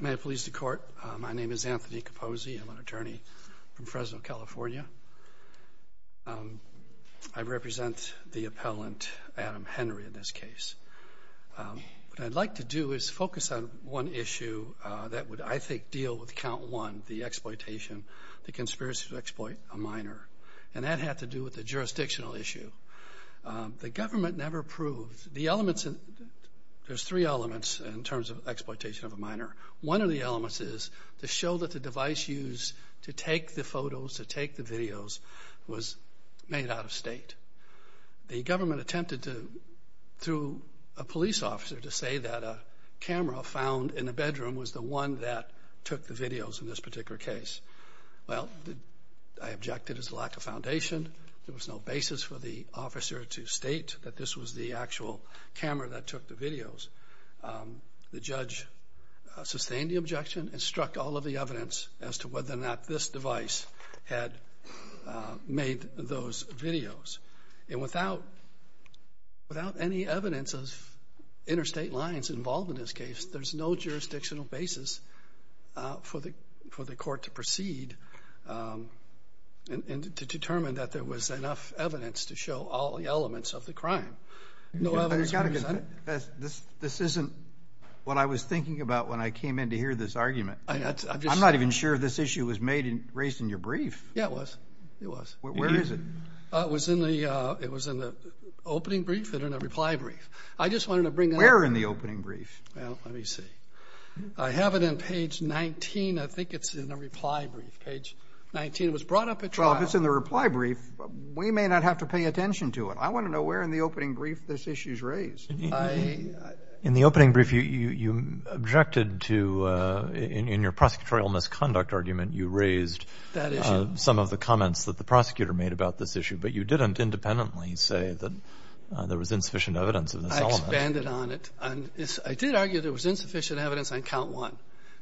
May it please the Court, my name is Anthony Capozzi. I'm an attorney from Fresno, California. I represent the appellant, Adam Henry, in this case. What I'd like to do is focus on one issue that would, I think, deal with Count 1, the exploitation, the conspiracy to exploit a minor, and that had to do with the jurisdictional issue. The government never proved, the elements, there's three elements in terms of exploitation of a minor. One of the elements is to show that the device used to take the photos, to take the videos, was made out of state. The government attempted to, through a police officer, to say that a camera found in the bedroom was the one that took the videos in this particular case. Well, I objected as a lack of foundation. There was no basis for the officer to state that this was the actual camera that took the videos. The judge sustained the objection and struck all of the evidence as to whether or not this device had made those videos. And without any evidence of interstate lines involved in this case, there's no jurisdictional basis for the court to proceed and to determine that there was enough evidence to show all the elements of the crime. No evidence was presented. This isn't what I was thinking about when I came in to hear this argument. I'm not even sure if this issue was raised in your brief. Yeah, it was. It was. Where is it? It was in the opening brief and in a reply brief. I just wanted to bring it up. Where in the opening brief? Well, let me see. I have it in page 19. I think it's in the reply brief. Page 19. It was brought up at trial. Well, if it's in the reply brief, we may not have to pay attention to it. I want to know where in the opening brief this issue is raised. In the opening brief, you objected to, in your prosecutorial misconduct argument, you raised some of the comments that the prosecutor made about this issue, but you didn't independently say that there was insufficient evidence of this element. I expanded on it. I did argue there was insufficient evidence on count one.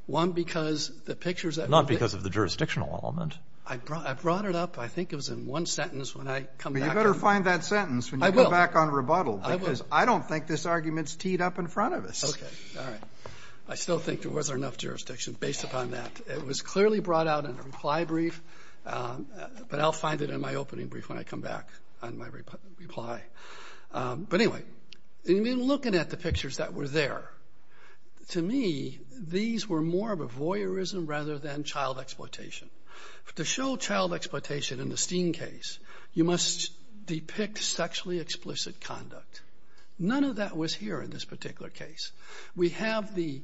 One, because the pictures that were picked up. Not because of the jurisdictional element. I brought it up. I think it was in one sentence when I come back. Well, you better find that sentence when you come back on rebuttal. I will. Because I don't think this argument is teed up in front of us. Okay. All right. I still think there wasn't enough jurisdiction based upon that. It was clearly brought out in the reply brief, but I'll find it in my opening brief when I come back on my reply. But, anyway, in looking at the pictures that were there, to me, these were more of a voyeurism rather than child exploitation. To show child exploitation in the Steen case, you must depict sexually explicit conduct. None of that was here in this particular case. We have the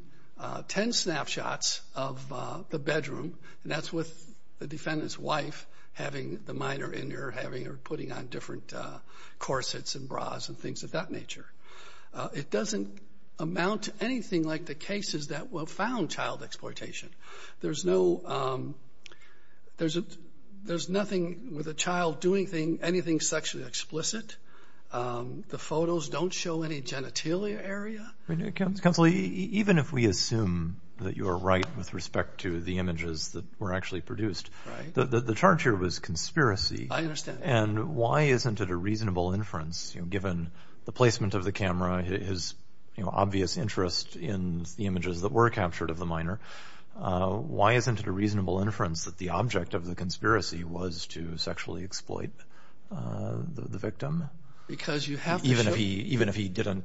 ten snapshots of the bedroom, and that's with the defendant's wife having the minor in her, having her putting on different corsets and bras and things of that nature. It doesn't amount to anything like the cases that will found child exploitation. There's nothing with a child doing anything sexually explicit. The photos don't show any genitalia area. Counsel, even if we assume that you are right with respect to the images that were actually produced, the charge here was conspiracy. I understand. And why isn't it a reasonable inference, given the placement of the camera, his obvious interest in the images that were captured of the minor, why isn't it a reasonable inference that the object of the conspiracy was to sexually exploit the victim? Because you have to show. Even if he didn't,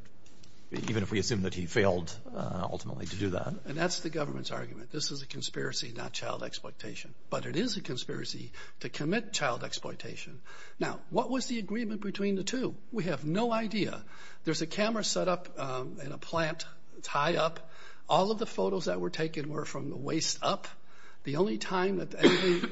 even if we assume that he failed ultimately to do that. And that's the government's argument. This is a conspiracy, not child exploitation. But it is a conspiracy to commit child exploitation. Now, what was the agreement between the two? We have no idea. There's a camera set up in a plant. It's high up. All of the photos that were taken were from the waist up. The only time that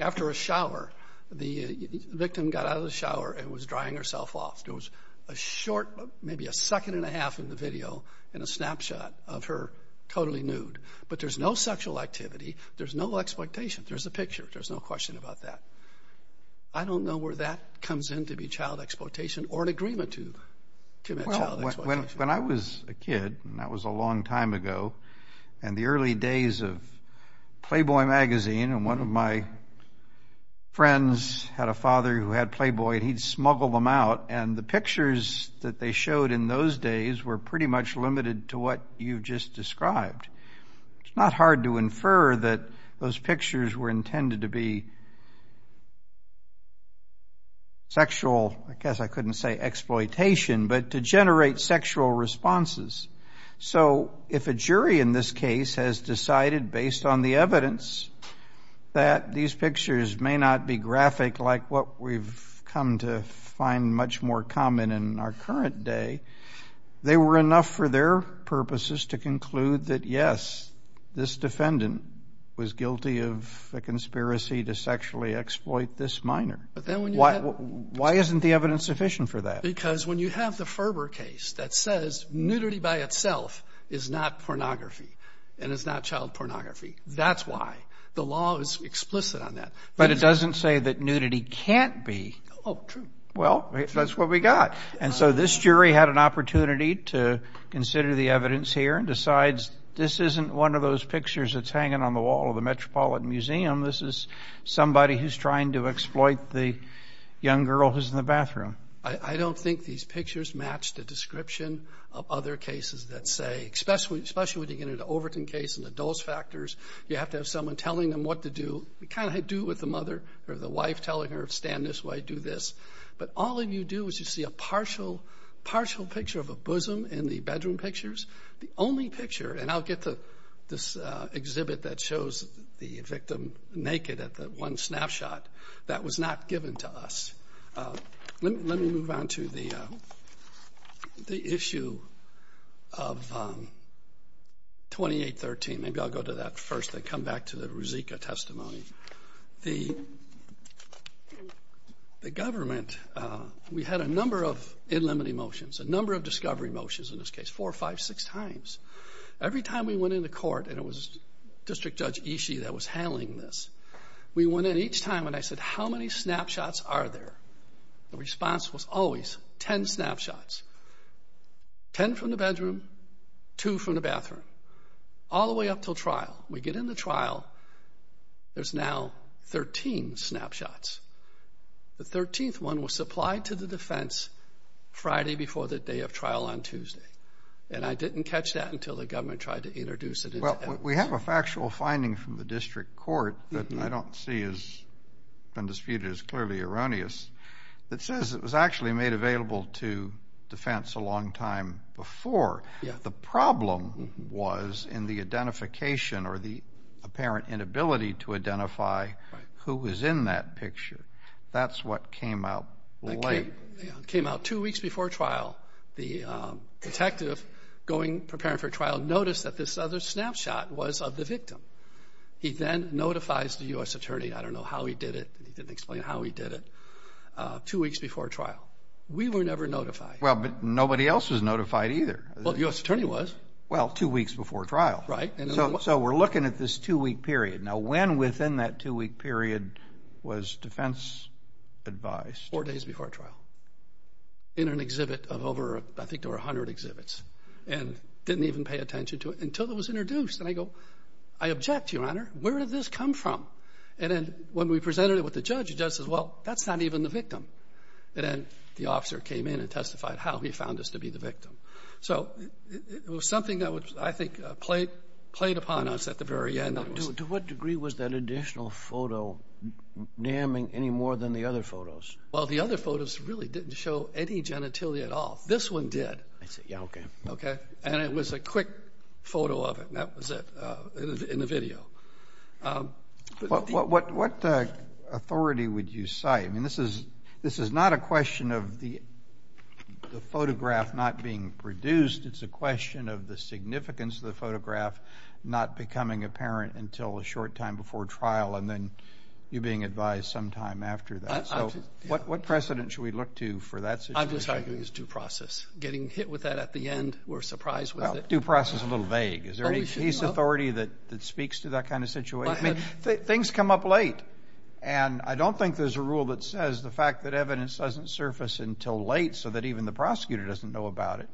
after a shower, the victim got out of the shower and was drying herself off. There was a short, maybe a second and a half in the video, and a snapshot of her totally nude. But there's no sexual activity. There's no exploitation. There's a picture. There's no question about that. I don't know where that comes in to be child exploitation or an agreement to commit child exploitation. Well, when I was a kid, and that was a long time ago, and the early days of Playboy magazine, and one of my friends had a father who had Playboy, and he'd smuggle them out. And the pictures that they showed in those days were pretty much limited to what you've just described. It's not hard to infer that those pictures were intended to be sexual, I guess I couldn't say exploitation, but to generate sexual responses. So if a jury in this case has decided, based on the evidence, that these pictures may not be graphic like what we've come to find much more common in our current day, they were enough for their purposes to conclude that, yes, this defendant was guilty of a conspiracy to sexually exploit this minor. Why isn't the evidence sufficient for that? Because when you have the Ferber case that says nudity by itself is not pornography and is not child pornography, that's why. The law is explicit on that. But it doesn't say that nudity can't be. Oh, true. Well, that's what we got. And so this jury had an opportunity to consider the evidence here and decides this isn't one of those pictures that's hanging on the wall of the Metropolitan Museum, this is somebody who's trying to exploit the young girl who's in the bathroom. I don't think these pictures match the description of other cases that say, especially when you get into the Overton case and the dose factors, you have to have someone telling them what to do, what kind of do with the mother or the wife telling her stand this way, do this. But all you do is you see a partial picture of a bosom in the bedroom pictures. The only picture, and I'll get to this exhibit that shows the victim naked at the one snapshot, that was not given to us. Let me move on to the issue of 2813. Maybe I'll go to that first, then come back to the Ruzicka testimony. The government, we had a number of in limited motions, a number of discovery motions in this case, four, five, six times. Every time we went into court, and it was District Judge Ishii that was handling this, we went in each time and I said, how many snapshots are there? The response was always 10 snapshots, 10 from the bedroom, 2 from the bathroom, all the way up until trial. We get into trial, there's now 13 snapshots. The 13th one was supplied to the defense Friday before the day of trial on Tuesday, and I didn't catch that until the government tried to introduce it. Well, we have a factual finding from the district court that I don't see as been disputed as clearly erroneous that says it was actually made available to defense a long time before. The problem was in the identification or the apparent inability to identify who was in that picture. That's what came out late. It came out two weeks before trial. The detective going, preparing for trial, noticed that this other snapshot was of the victim. He then notifies the U.S. attorney, I don't know how he did it, he didn't explain how he did it, two weeks before trial. We were never notified. Well, but nobody else was notified either. Well, the U.S. attorney was. Well, two weeks before trial. Right. So we're looking at this two-week period. Now, when within that two-week period was defense advised? Four days before trial in an exhibit of over, I think there were 100 exhibits, and didn't even pay attention to it until it was introduced. And I go, I object, Your Honor. Where did this come from? And then when we presented it with the judge, the judge says, well, that's not even the victim. And then the officer came in and testified how he found us to be the victim. So it was something that I think played upon us at the very end. To what degree was that additional photo damning any more than the other photos? Well, the other photos really didn't show any genitalia at all. This one did. Yeah, okay. Okay? And it was a quick photo of it, and that was it in the video. What authority would you cite? I mean, this is not a question of the photograph not being produced. It's a question of the significance of the photograph not becoming apparent until a short time before trial and then you being advised sometime after that. So what precedent should we look to for that situation? I'm just arguing it's due process. Getting hit with that at the end, we're surprised with it. Well, due process is a little vague. Is there any case authority that speaks to that kind of situation? I mean, things come up late. And I don't think there's a rule that says the fact that evidence doesn't surface until late so that even the prosecutor doesn't know about it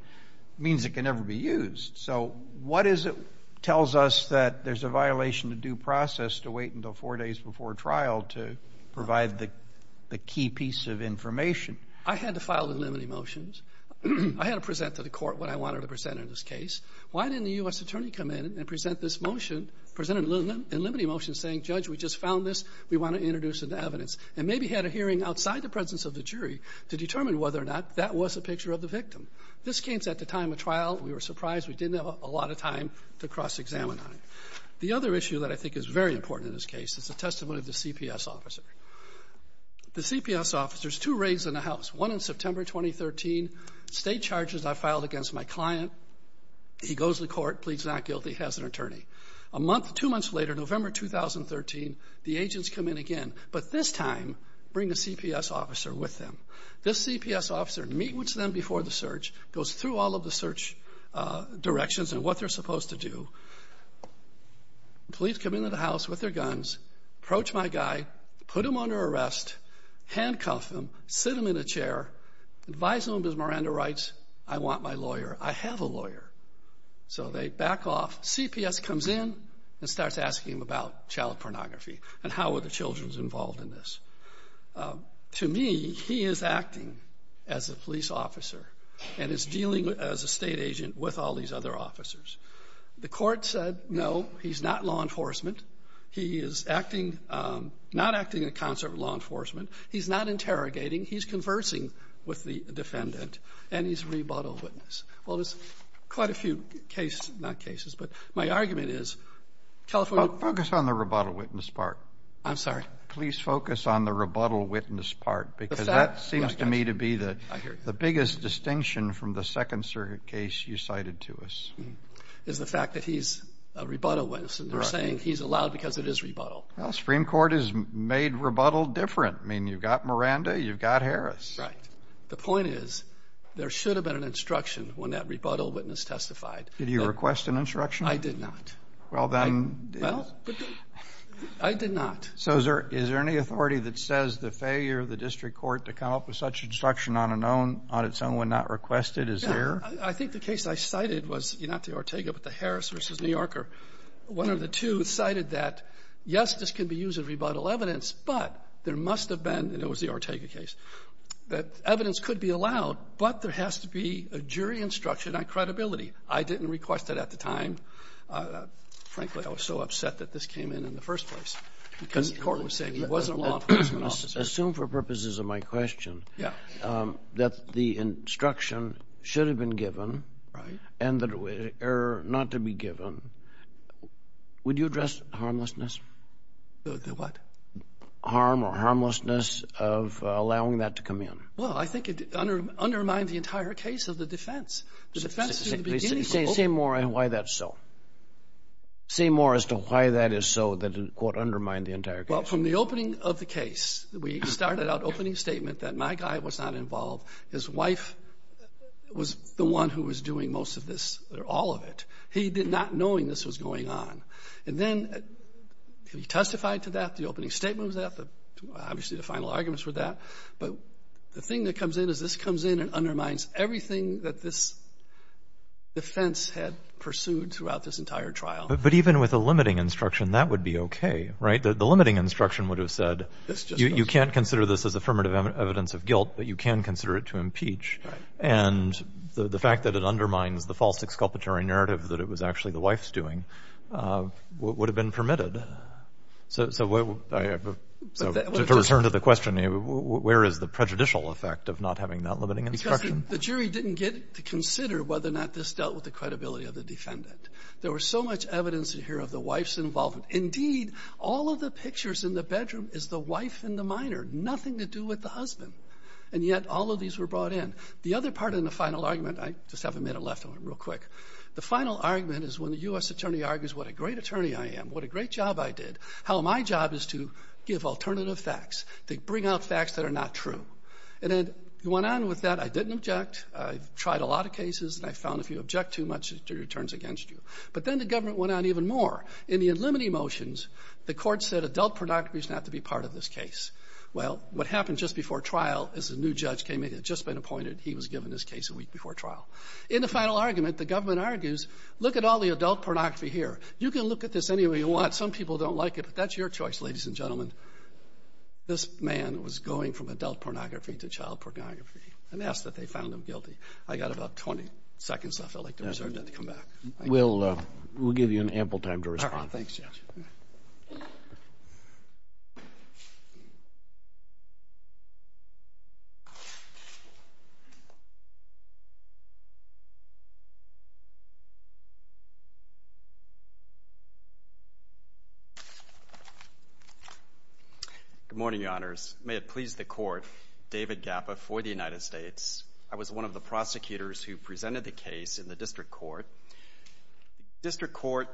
means it can never be used. So what is it tells us that there's a violation of due process to wait until four days before trial to provide the key piece of information? I had to file the limine motions. I had to present to the court what I wanted to present in this case. Why didn't the U.S. attorney come in and present this motion, present a limine motion saying, Judge, we just found this. We want to introduce it to evidence, and maybe had a hearing outside the presence of the jury to determine whether or not that was a picture of the victim. This came at the time of trial. We were surprised. We didn't have a lot of time to cross-examine on it. The other issue that I think is very important in this case is the testimony of the CPS officer. The CPS officer's two raids in the house, one in September 2013, state charges I filed against my client. He goes to court, pleads not guilty, has an attorney. Two months later, November 2013, the agents come in again, but this time bring a CPS officer with them. This CPS officer meets with them before the search, goes through all of the search directions and what they're supposed to do. Police come into the house with their guns, approach my guy, put him under arrest, handcuff him, sit him in a chair, advise him, as Miranda writes, I want my lawyer. I have a lawyer. So they back off. CPS comes in and starts asking him about child pornography and how were the children involved in this. To me, he is acting as a police officer and is dealing as a state agent with all these other officers. The court said, no, he's not law enforcement. He is not acting in concert with law enforcement. He's not interrogating. He's conversing with the defendant, and he's a rebuttal witness. Well, there's quite a few cases, not cases, but my argument is California. Focus on the rebuttal witness part. I'm sorry? Please focus on the rebuttal witness part, because that seems to me to be the biggest distinction from the Second Circuit case you cited to us. It's the fact that he's a rebuttal witness, and they're saying he's allowed because it is rebuttal. Well, the Supreme Court has made rebuttal different. I mean, you've got Miranda, you've got Harris. Right. The point is, there should have been an instruction when that rebuttal witness testified. Did you request an instruction? I did not. Well, then. Well, I did not. So is there any authority that says the failure of the district court to come up with such instruction on its own when not requested is there? I think the case I cited was not the Ortega, but the Harris v. New Yorker. One of the two cited that, yes, this can be used as rebuttal evidence, but there must have been, and it was the Ortega case, that evidence could be allowed, but there has to be a jury instruction on credibility. I didn't request it at the time. Frankly, I was so upset that this came in in the first place because the court was saying it wasn't law enforcement officers. Assume for purposes of my question that the instruction should have been given. Right. And that it were not to be given. Would you address harmlessness? The what? Harm or harmlessness of allowing that to come in. Well, I think it undermined the entire case of the defense. The defense in the beginning. Say more on why that's so. Say more as to why that is so that it, quote, undermined the entire case. Well, from the opening of the case, we started out opening statement that my guy was not involved. His wife was the one who was doing most of this or all of it. He did not knowing this was going on. And then he testified to that. The opening statement was that. Obviously, the final arguments were that. But the thing that comes in is this comes in and undermines everything that this defense had pursued throughout this entire trial. But even with a limiting instruction, that would be okay, right? The limiting instruction would have said you can't consider this as affirmative evidence of guilt, but you can consider it to impeach. Right. And the fact that it undermines the false exculpatory narrative that it was actually the wife's doing would have been permitted. So to return to the question, where is the prejudicial effect of not having that limiting instruction? Because the jury didn't get to consider whether or not this dealt with the credibility of the defendant. There was so much evidence in here of the wife's involvement. Indeed, all of the pictures in the bedroom is the wife in the minor, nothing to do with the husband. And yet all of these were brought in. The other part in the final argument, I just haven't made a left on it real quick, the final argument is when the U.S. attorney argues what a great attorney I am, what a great job I did, how my job is to give alternative facts, to bring out facts that are not true. And then it went on with that. I didn't object. I've tried a lot of cases, and I found if you object too much, the jury turns against you. But then the government went on even more. In the unlimiting motions, the court said adult pornography is not to be part of this case. Well, what happened just before trial is a new judge came in, had just been appointed. He was given this case a week before trial. In the final argument, the government argues, look at all the adult pornography here. You can look at this any way you want. Some people don't like it, but that's your choice, ladies and gentlemen. This man was going from adult pornography to child pornography and asked that they found him guilty. I've got about 20 seconds left. I'd like to reserve that to come back. We'll give you an ample time to respond. All right. Thanks, Judge. Good morning, Your Honors. May it please the Court, David Gappa for the United States. I was one of the prosecutors who presented the case in the district court. The district court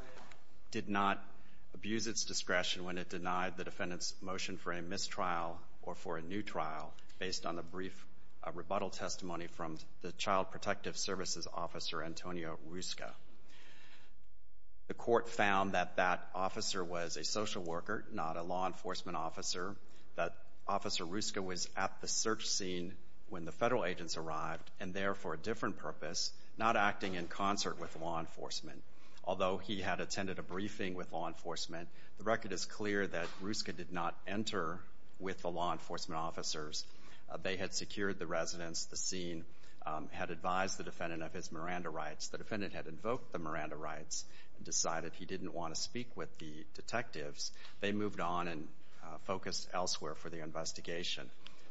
did not abuse its discretion when it denied the defendant's motion for a mistrial or for a new trial based on the brief rebuttal testimony from the Child Protective Services Officer, Antonio Rusca. The court found that that officer was a social worker, not a law enforcement officer, that Officer Rusca was at the search scene when the federal agents arrived and there for a different purpose, not acting in concert with law enforcement. Although he had attended a briefing with law enforcement, the record is clear that Rusca did not enter with the law enforcement officers. They had secured the residence, the scene, had advised the defendant of his Miranda rights. The defendant had invoked the Miranda rights and decided he didn't want to speak with the detectives. They moved on and focused elsewhere for the investigation.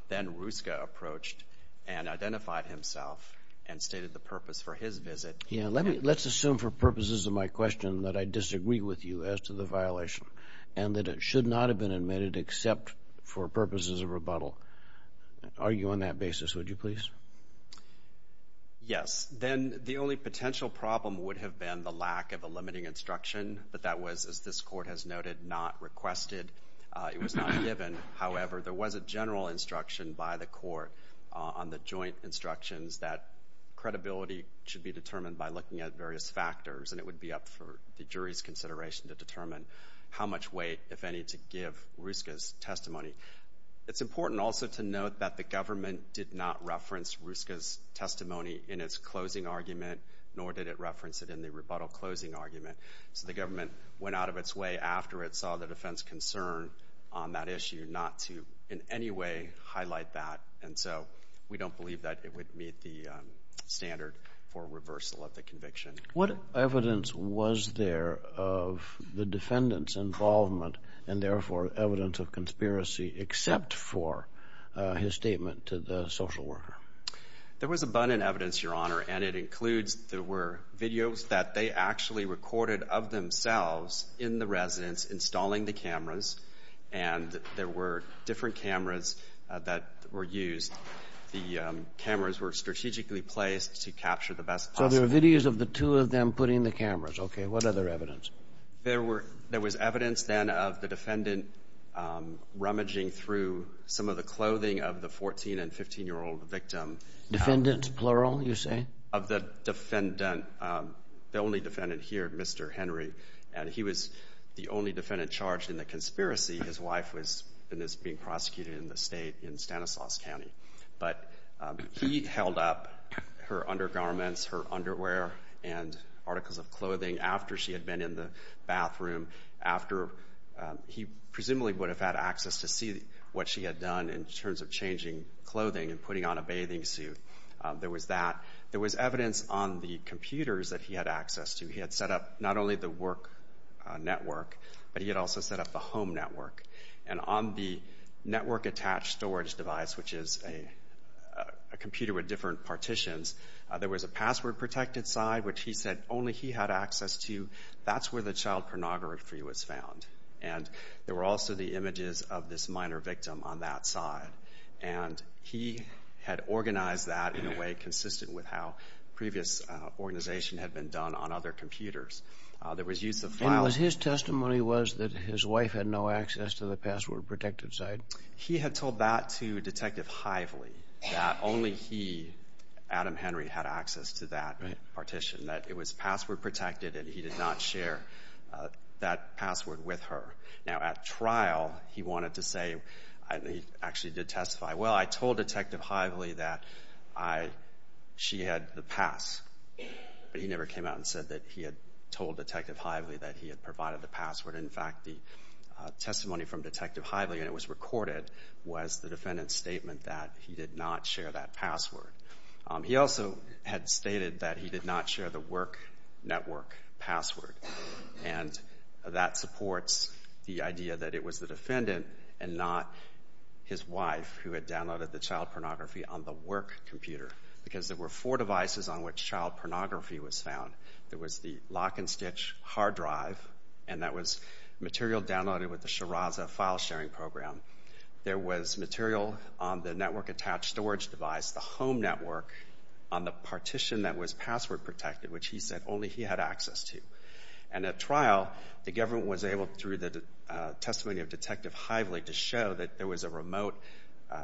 Then Rusca approached and identified himself and stated the purpose for his visit. Let's assume for purposes of my question that I disagree with you as to the violation and that it should not have been admitted except for purposes of my question. Are you on that basis, would you please? Yes. Then the only potential problem would have been the lack of a limiting instruction, but that was, as this court has noted, not requested. It was not given. However, there was a general instruction by the court on the joint instructions that credibility should be determined by looking at various factors, and it would be up for the jury's consideration to determine how much weight, if any, to give Rusca's testimony. It's important also to note that the government did not reference Rusca's testimony in its closing argument, nor did it reference it in the rebuttal closing argument. So the government went out of its way after it saw the defense concern on that issue not to in any way highlight that, and so we don't believe that it would meet the standard for reversal of the conviction. What evidence was there of the defendant's involvement and, therefore, evidence of conspiracy except for his statement to the social worker? There was abundant evidence, Your Honor, and it includes there were videos that they actually recorded of themselves in the residence installing the cameras, and there were different cameras that were used. The cameras were strategically placed to capture the best possible. So there were videos of the two of them putting the cameras. Okay. What other evidence? There was evidence, then, of the defendant rummaging through some of the clothing of the 14- and 15-year-old victim. Defendant, plural, you say? Of the defendant, the only defendant here, Mr. Henry, and he was the only defendant charged in the conspiracy. His wife was being prosecuted in the state in Stanislaus County. But he held up her undergarments, her underwear, and articles of clothing after she had been in the bathroom, after he presumably would have had access to see what she had done in terms of changing clothing and putting on a bathing suit. There was that. There was evidence on the computers that he had access to. He had set up not only the work network, but he had also set up the home network. And on the network-attached storage device, which is a computer with different partitions, there was a password-protected side, which he said only he had access to. That's where the child pornography was found. And there were also the images of this minor victim on that side. And he had organized that in a way consistent with how previous organization had been done on other computers. There was use of files. And his testimony was that his wife had no access to the password-protected side? He had told that to Detective Hively, that only he, Adam Henry, had access to that partition. That it was password-protected and he did not share that password with her. Now, at trial, he wanted to say, and he actually did testify, well, I told Detective Hively that she had the pass. But he never came out and said that he had told Detective Hively that he had provided the password. In fact, the testimony from Detective Hively, and it was recorded, was the defendant's statement that he did not share that password. He also had stated that he did not share the work network password. And that supports the idea that it was the defendant and not his wife who had downloaded the child pornography on the work computer. Because there were four devices on which child pornography was found. There was the lock-and-stitch hard drive, and that was material downloaded with the Shiraz file-sharing program. There was material on the network-attached storage device, the home network, on the partition that was password-protected, which he said only he had access to. And at trial, the government was able, through the testimony of Detective Hively, to show that there was a remote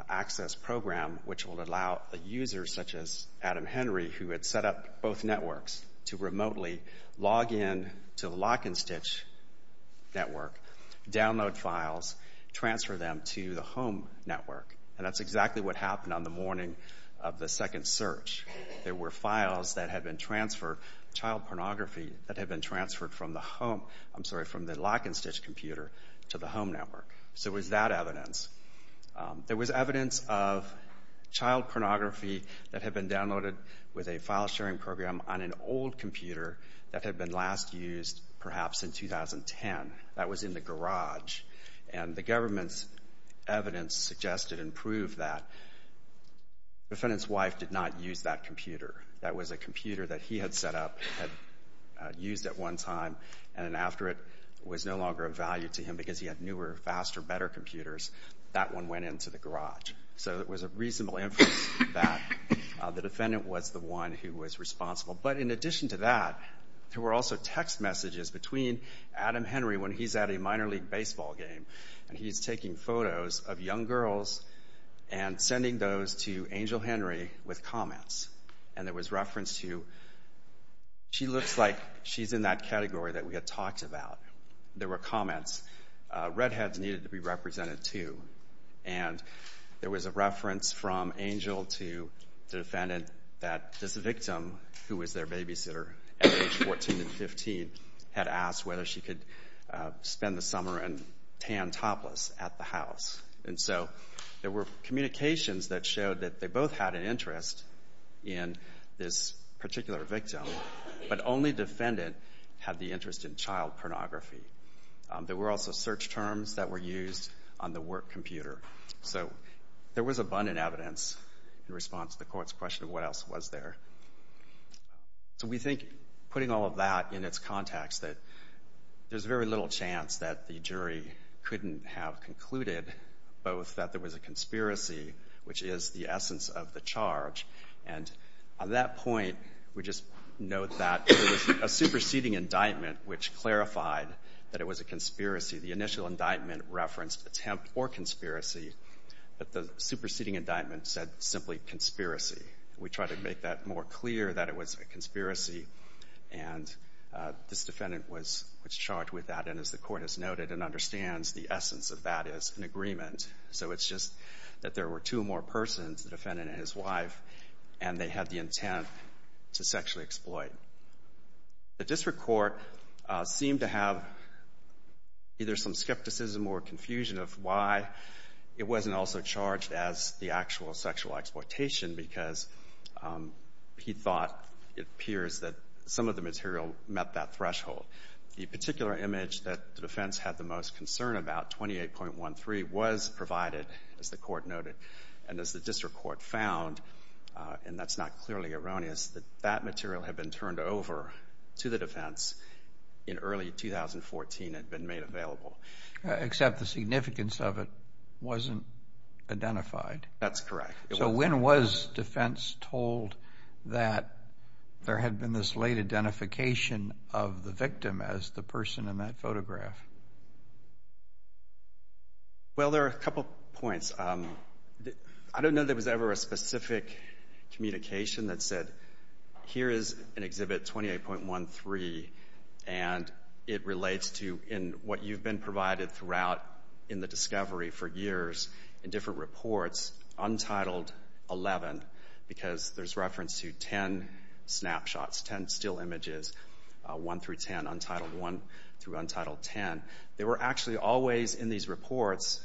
access program which would allow a user, such as Adam Henry, who had set up both networks, to remotely log in to the lock-and-stitch network, download files, transfer them to the home network. And that's exactly what happened on the morning of the second search. There were files that had been transferred, child pornography, that had been transferred from the lock-and-stitch computer to the home network. So it was that evidence. There was evidence of child pornography that had been downloaded with a file-sharing program on an old computer that had been last used perhaps in 2010. That was in the garage. And the government's evidence suggested and proved that the defendant's wife did not use that computer. That was a computer that he had set up, had used at one time, and after it was no longer of value to him because he had newer, faster, better computers, that one went into the garage. So it was a reasonable inference that the defendant was the one who was responsible. But in addition to that, there were also text messages between Adam Henry when he's at a minor league baseball game, and he's taking photos of young girls and sending those to Angel Henry with comments. And there was reference to, she looks like she's in that category that we had talked about. There were comments. Redheads needed to be represented too. And there was a reference from Angel to the defendant that this victim, who was their babysitter at age 14 and 15, had asked whether she could spend the summer in tan topless at the house. And so there were communications that showed that they both had an interest in this particular victim, but only the defendant had the interest in child pornography. There were also search terms that were used on the work computer. So there was abundant evidence in response to the court's question of what else was there. So we think, putting all of that in its context, that there's very little chance that the jury couldn't have concluded both that there was a conspiracy, which is the essence of the charge. And on that point, we just note that there was a superseding indictment which clarified that it was a conspiracy. The initial indictment referenced attempt or conspiracy, but the superseding indictment said simply conspiracy. We tried to make that more clear that it was a conspiracy, and this defendant was charged with that. And as the court has noted and understands, the essence of that is an agreement. So it's just that there were two more persons, the defendant and his wife, and they had the intent to sexually exploit. The district court seemed to have either some skepticism or confusion of why it wasn't also charged as the actual sexual exploitation because he thought it appears that some of the material met that threshold. The particular image that the defense had the most concern about, 28.13, was provided, as the court noted. And as the district court found, and that's not clearly erroneous, that that material had been turned over to the defense in early 2014 and had been made available. Except the significance of it wasn't identified. That's correct. So when was defense told that there had been this late identification of the victim as the person in that photograph? Well, there are a couple points. I don't know that there was ever a specific communication that said, here is an exhibit, 28.13, and it relates to what you've been provided throughout in the discovery for years in different reports, untitled 11, because there's reference to 10 snapshots, 10 still images, 1 through 10, untitled 1 through untitled 10. They were actually always in these reports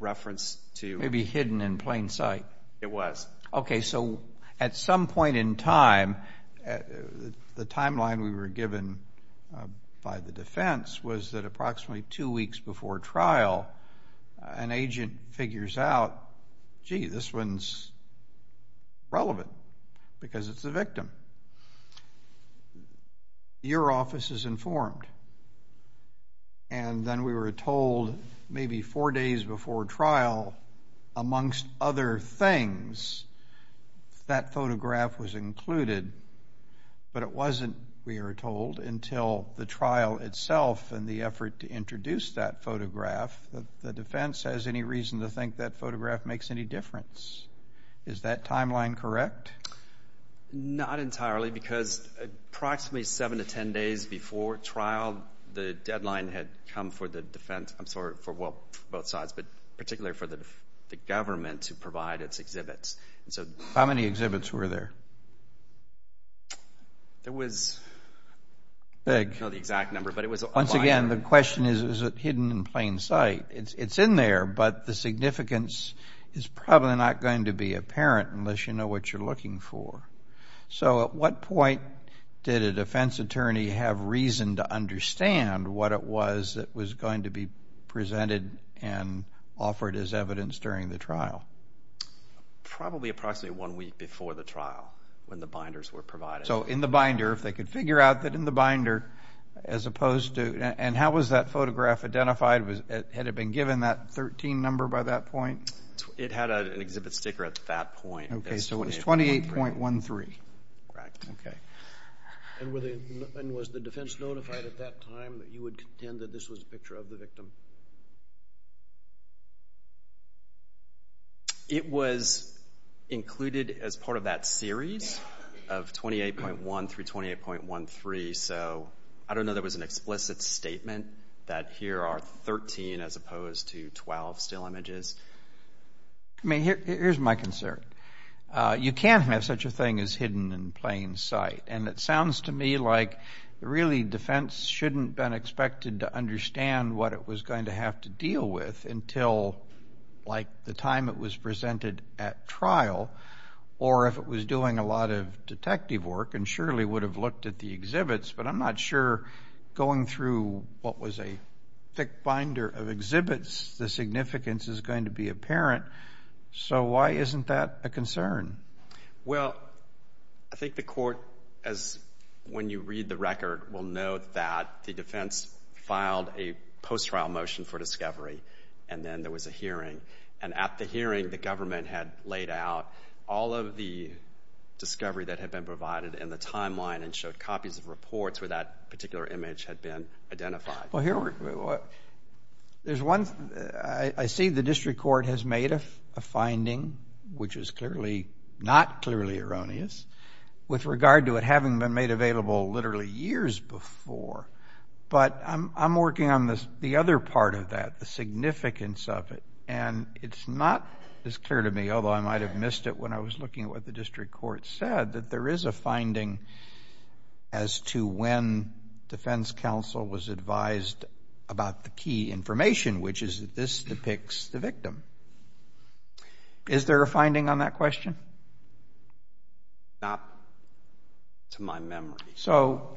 referenced to you. Maybe hidden in plain sight. It was. Okay, so at some point in time, the timeline we were given by the defense was that approximately two weeks before trial, an agent figures out, gee, this one's relevant because it's a victim. Your office is informed. And then we were told maybe four days before trial, amongst other things, that photograph was included. But it wasn't, we were told, until the trial itself and the effort to introduce that photograph that the defense has any reason to think that photograph makes any difference. Is that timeline correct? Not entirely because approximately 7 to 10 days before trial, the deadline had come for the defense, I'm sorry, for both sides, but particularly for the government to provide its exhibits. How many exhibits were there? There was, I don't know the exact number, but it was a lot. Once again, the question is, is it hidden in plain sight? It's in there, but the significance is probably not going to be apparent unless you know what you're looking for. So at what point did a defense attorney have reason to understand what it was that was going to be presented and offered as evidence during the trial? Probably approximately one week before the trial when the binders were provided. So in the binder, if they could figure out that in the binder, as opposed to, and how was that photograph identified? Had it been given that 13 number by that point? It had an exhibit sticker at that point. Okay, so it was 28.13. Correct. And was the defense notified at that time that you would contend that this was a picture of the victim? It was included as part of that series of 28.1 through 28.13. So I don't know there was an explicit statement that here are 13 as opposed to 12 still images. Here's my concern. You can't have such a thing as hidden in plain sight, and it sounds to me like really defense shouldn't have been expected to understand what it was going to have to deal with until like the time it was presented at trial or if it was doing a lot of detective work and surely would have looked at the exhibits. But I'm not sure going through what was a thick binder of exhibits, the significance is going to be apparent. So why isn't that a concern? Well, I think the court, when you read the record, will know that the defense filed a post-trial motion for discovery and then there was a hearing. And at the hearing, the government had laid out all of the discovery that had been provided in the timeline and showed copies of reports where that particular image had been identified. Well, I see the district court has made a finding, which is clearly not clearly erroneous, with regard to it having been made available literally years before. But I'm working on the other part of that, the significance of it. And it's not as clear to me, although I might have missed it when I was looking at what the district court said, that there is a finding as to when defense counsel was advised about the key information, which is that this depicts the victim. Is there a finding on that question? Not to my memory. So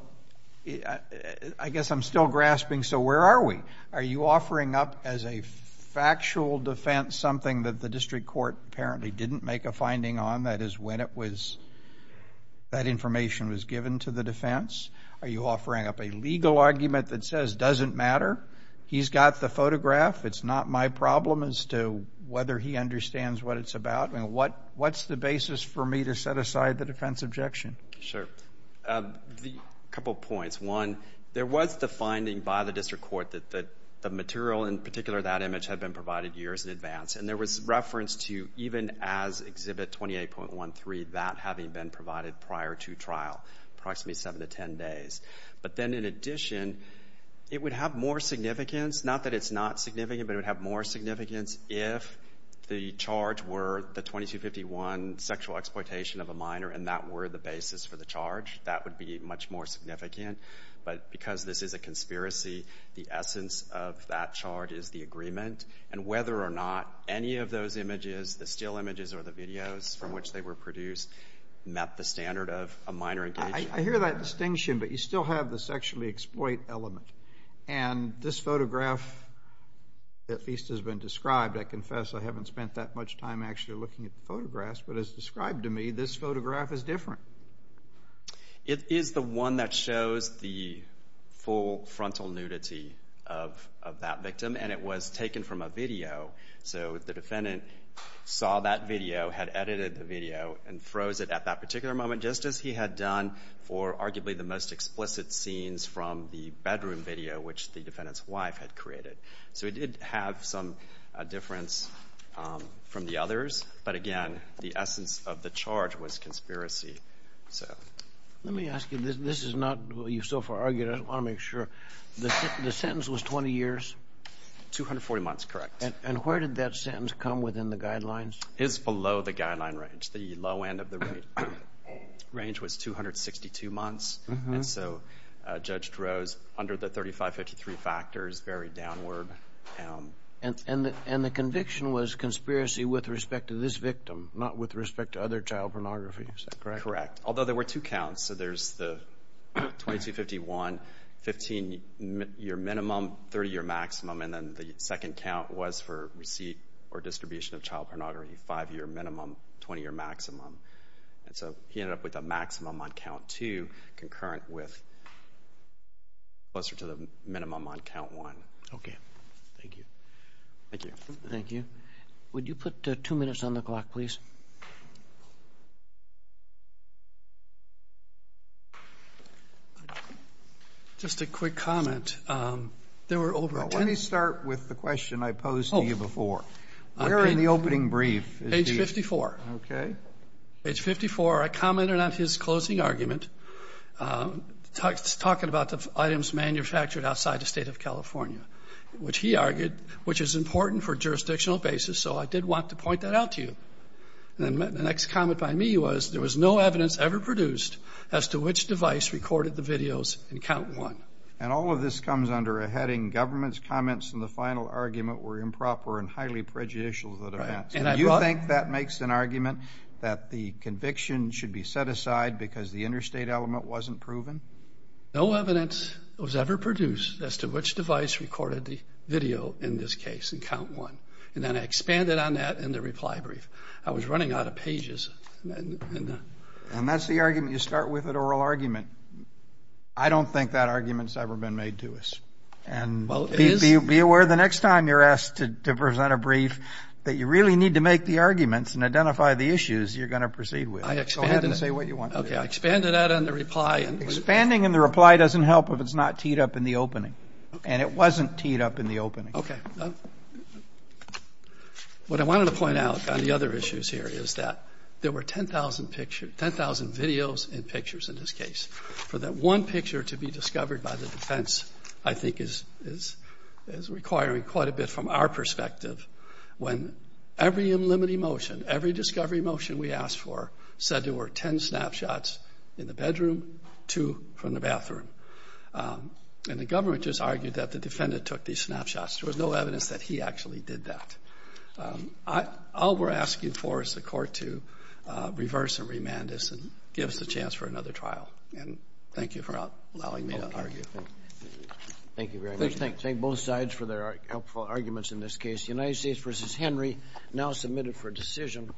I guess I'm still grasping, so where are we? Are you offering up as a factual defense something that the district court apparently didn't make a finding on, that is, when that information was given to the defense? Are you offering up a legal argument that says, doesn't matter, he's got the photograph, it's not my problem as to whether he understands what it's about, and what's the basis for me to set aside the defense objection? Sure. A couple points. One, there was the finding by the district court that the material, in particular that image, had been provided years in advance. And there was reference to even as Exhibit 28.13, that having been provided prior to trial, approximately 7 to 10 days. But then in addition, it would have more significance, not that it's not significant, but it would have more significance if the charge were the 2251 sexual exploitation of a minor and that were the basis for the charge. That would be much more significant. But because this is a conspiracy, the essence of that charge is the agreement. And whether or not any of those images, the still images or the videos from which they were produced, met the standard of a minor engagement. I hear that distinction, but you still have the sexually exploit element. And this photograph at least has been described. I confess I haven't spent that much time actually looking at the photographs, but as described to me, this photograph is different. It is the one that shows the full frontal nudity of that victim, and it was taken from a video. So the defendant saw that video, had edited the video, and froze it at that particular moment just as he had done for arguably the most explicit scenes from the bedroom video which the defendant's wife had created. So it did have some difference from the others. But again, the essence of the charge was conspiracy. Let me ask you, this is not what you've so far argued. I want to make sure. The sentence was 20 years? 240 months, correct. And where did that sentence come within the guidelines? It was below the guideline range. The low end of the range was 262 months, and so Judge Droz, under the 3553 factors, very downward. And the conviction was conspiracy with respect to this victim, not with respect to other child pornography, is that correct? Correct, although there were two counts. So there's the 2251, 15-year minimum, 30-year maximum, and then the second count was for receipt or distribution of child pornography, five-year minimum, 20-year maximum. And so he ended up with a maximum on count two, concurrent with closer to the minimum on count one. Okay, thank you. Thank you. Thank you. Would you put two minutes on the clock, please? Just a quick comment. There were over 10 minutes. Let me start with the question I posed to you before. Where in the opening brief is he? Page 54. Okay. Page 54, I commented on his closing argument, talking about the items manufactured outside the State of California, which he argued, which is important for jurisdictional basis, so I did want to point that out to you. And the next comment by me was, there was no evidence ever produced as to which device recorded the videos in count one. And all of this comes under a heading, government's comments in the final argument were improper and highly prejudicial to the defense. Do you think that makes an argument that the conviction should be set aside because the interstate element wasn't proven? No evidence was ever produced as to which device recorded the video, in this case, in count one. And then I expanded on that in the reply brief. I was running out of pages. And that's the argument you start with at oral argument. I don't think that argument's ever been made to us. And be aware the next time you're asked to present a brief, that you really need to make the arguments and identify the issues you're going to proceed with. So go ahead and say what you want to say. Okay. I expanded that in the reply. Expanding in the reply doesn't help if it's not teed up in the opening. And it wasn't teed up in the opening. Okay. What I wanted to point out on the other issues here is that there were 10,000 videos and pictures in this case. For that one picture to be discovered by the defense, I think, is requiring quite a bit from our perspective when every unlimited motion, every discovery motion we asked for said there were 10 snapshots in the bedroom, two from the bathroom. And the government just argued that the defendant took these snapshots. There was no evidence that he actually did that. All we're asking for is the court to reverse and remand us and give us a chance for another trial. And thank you for allowing me to argue. Thank you very much. Let's thank both sides for their helpful arguments in this case. United States v. Henry, now submitted for decision.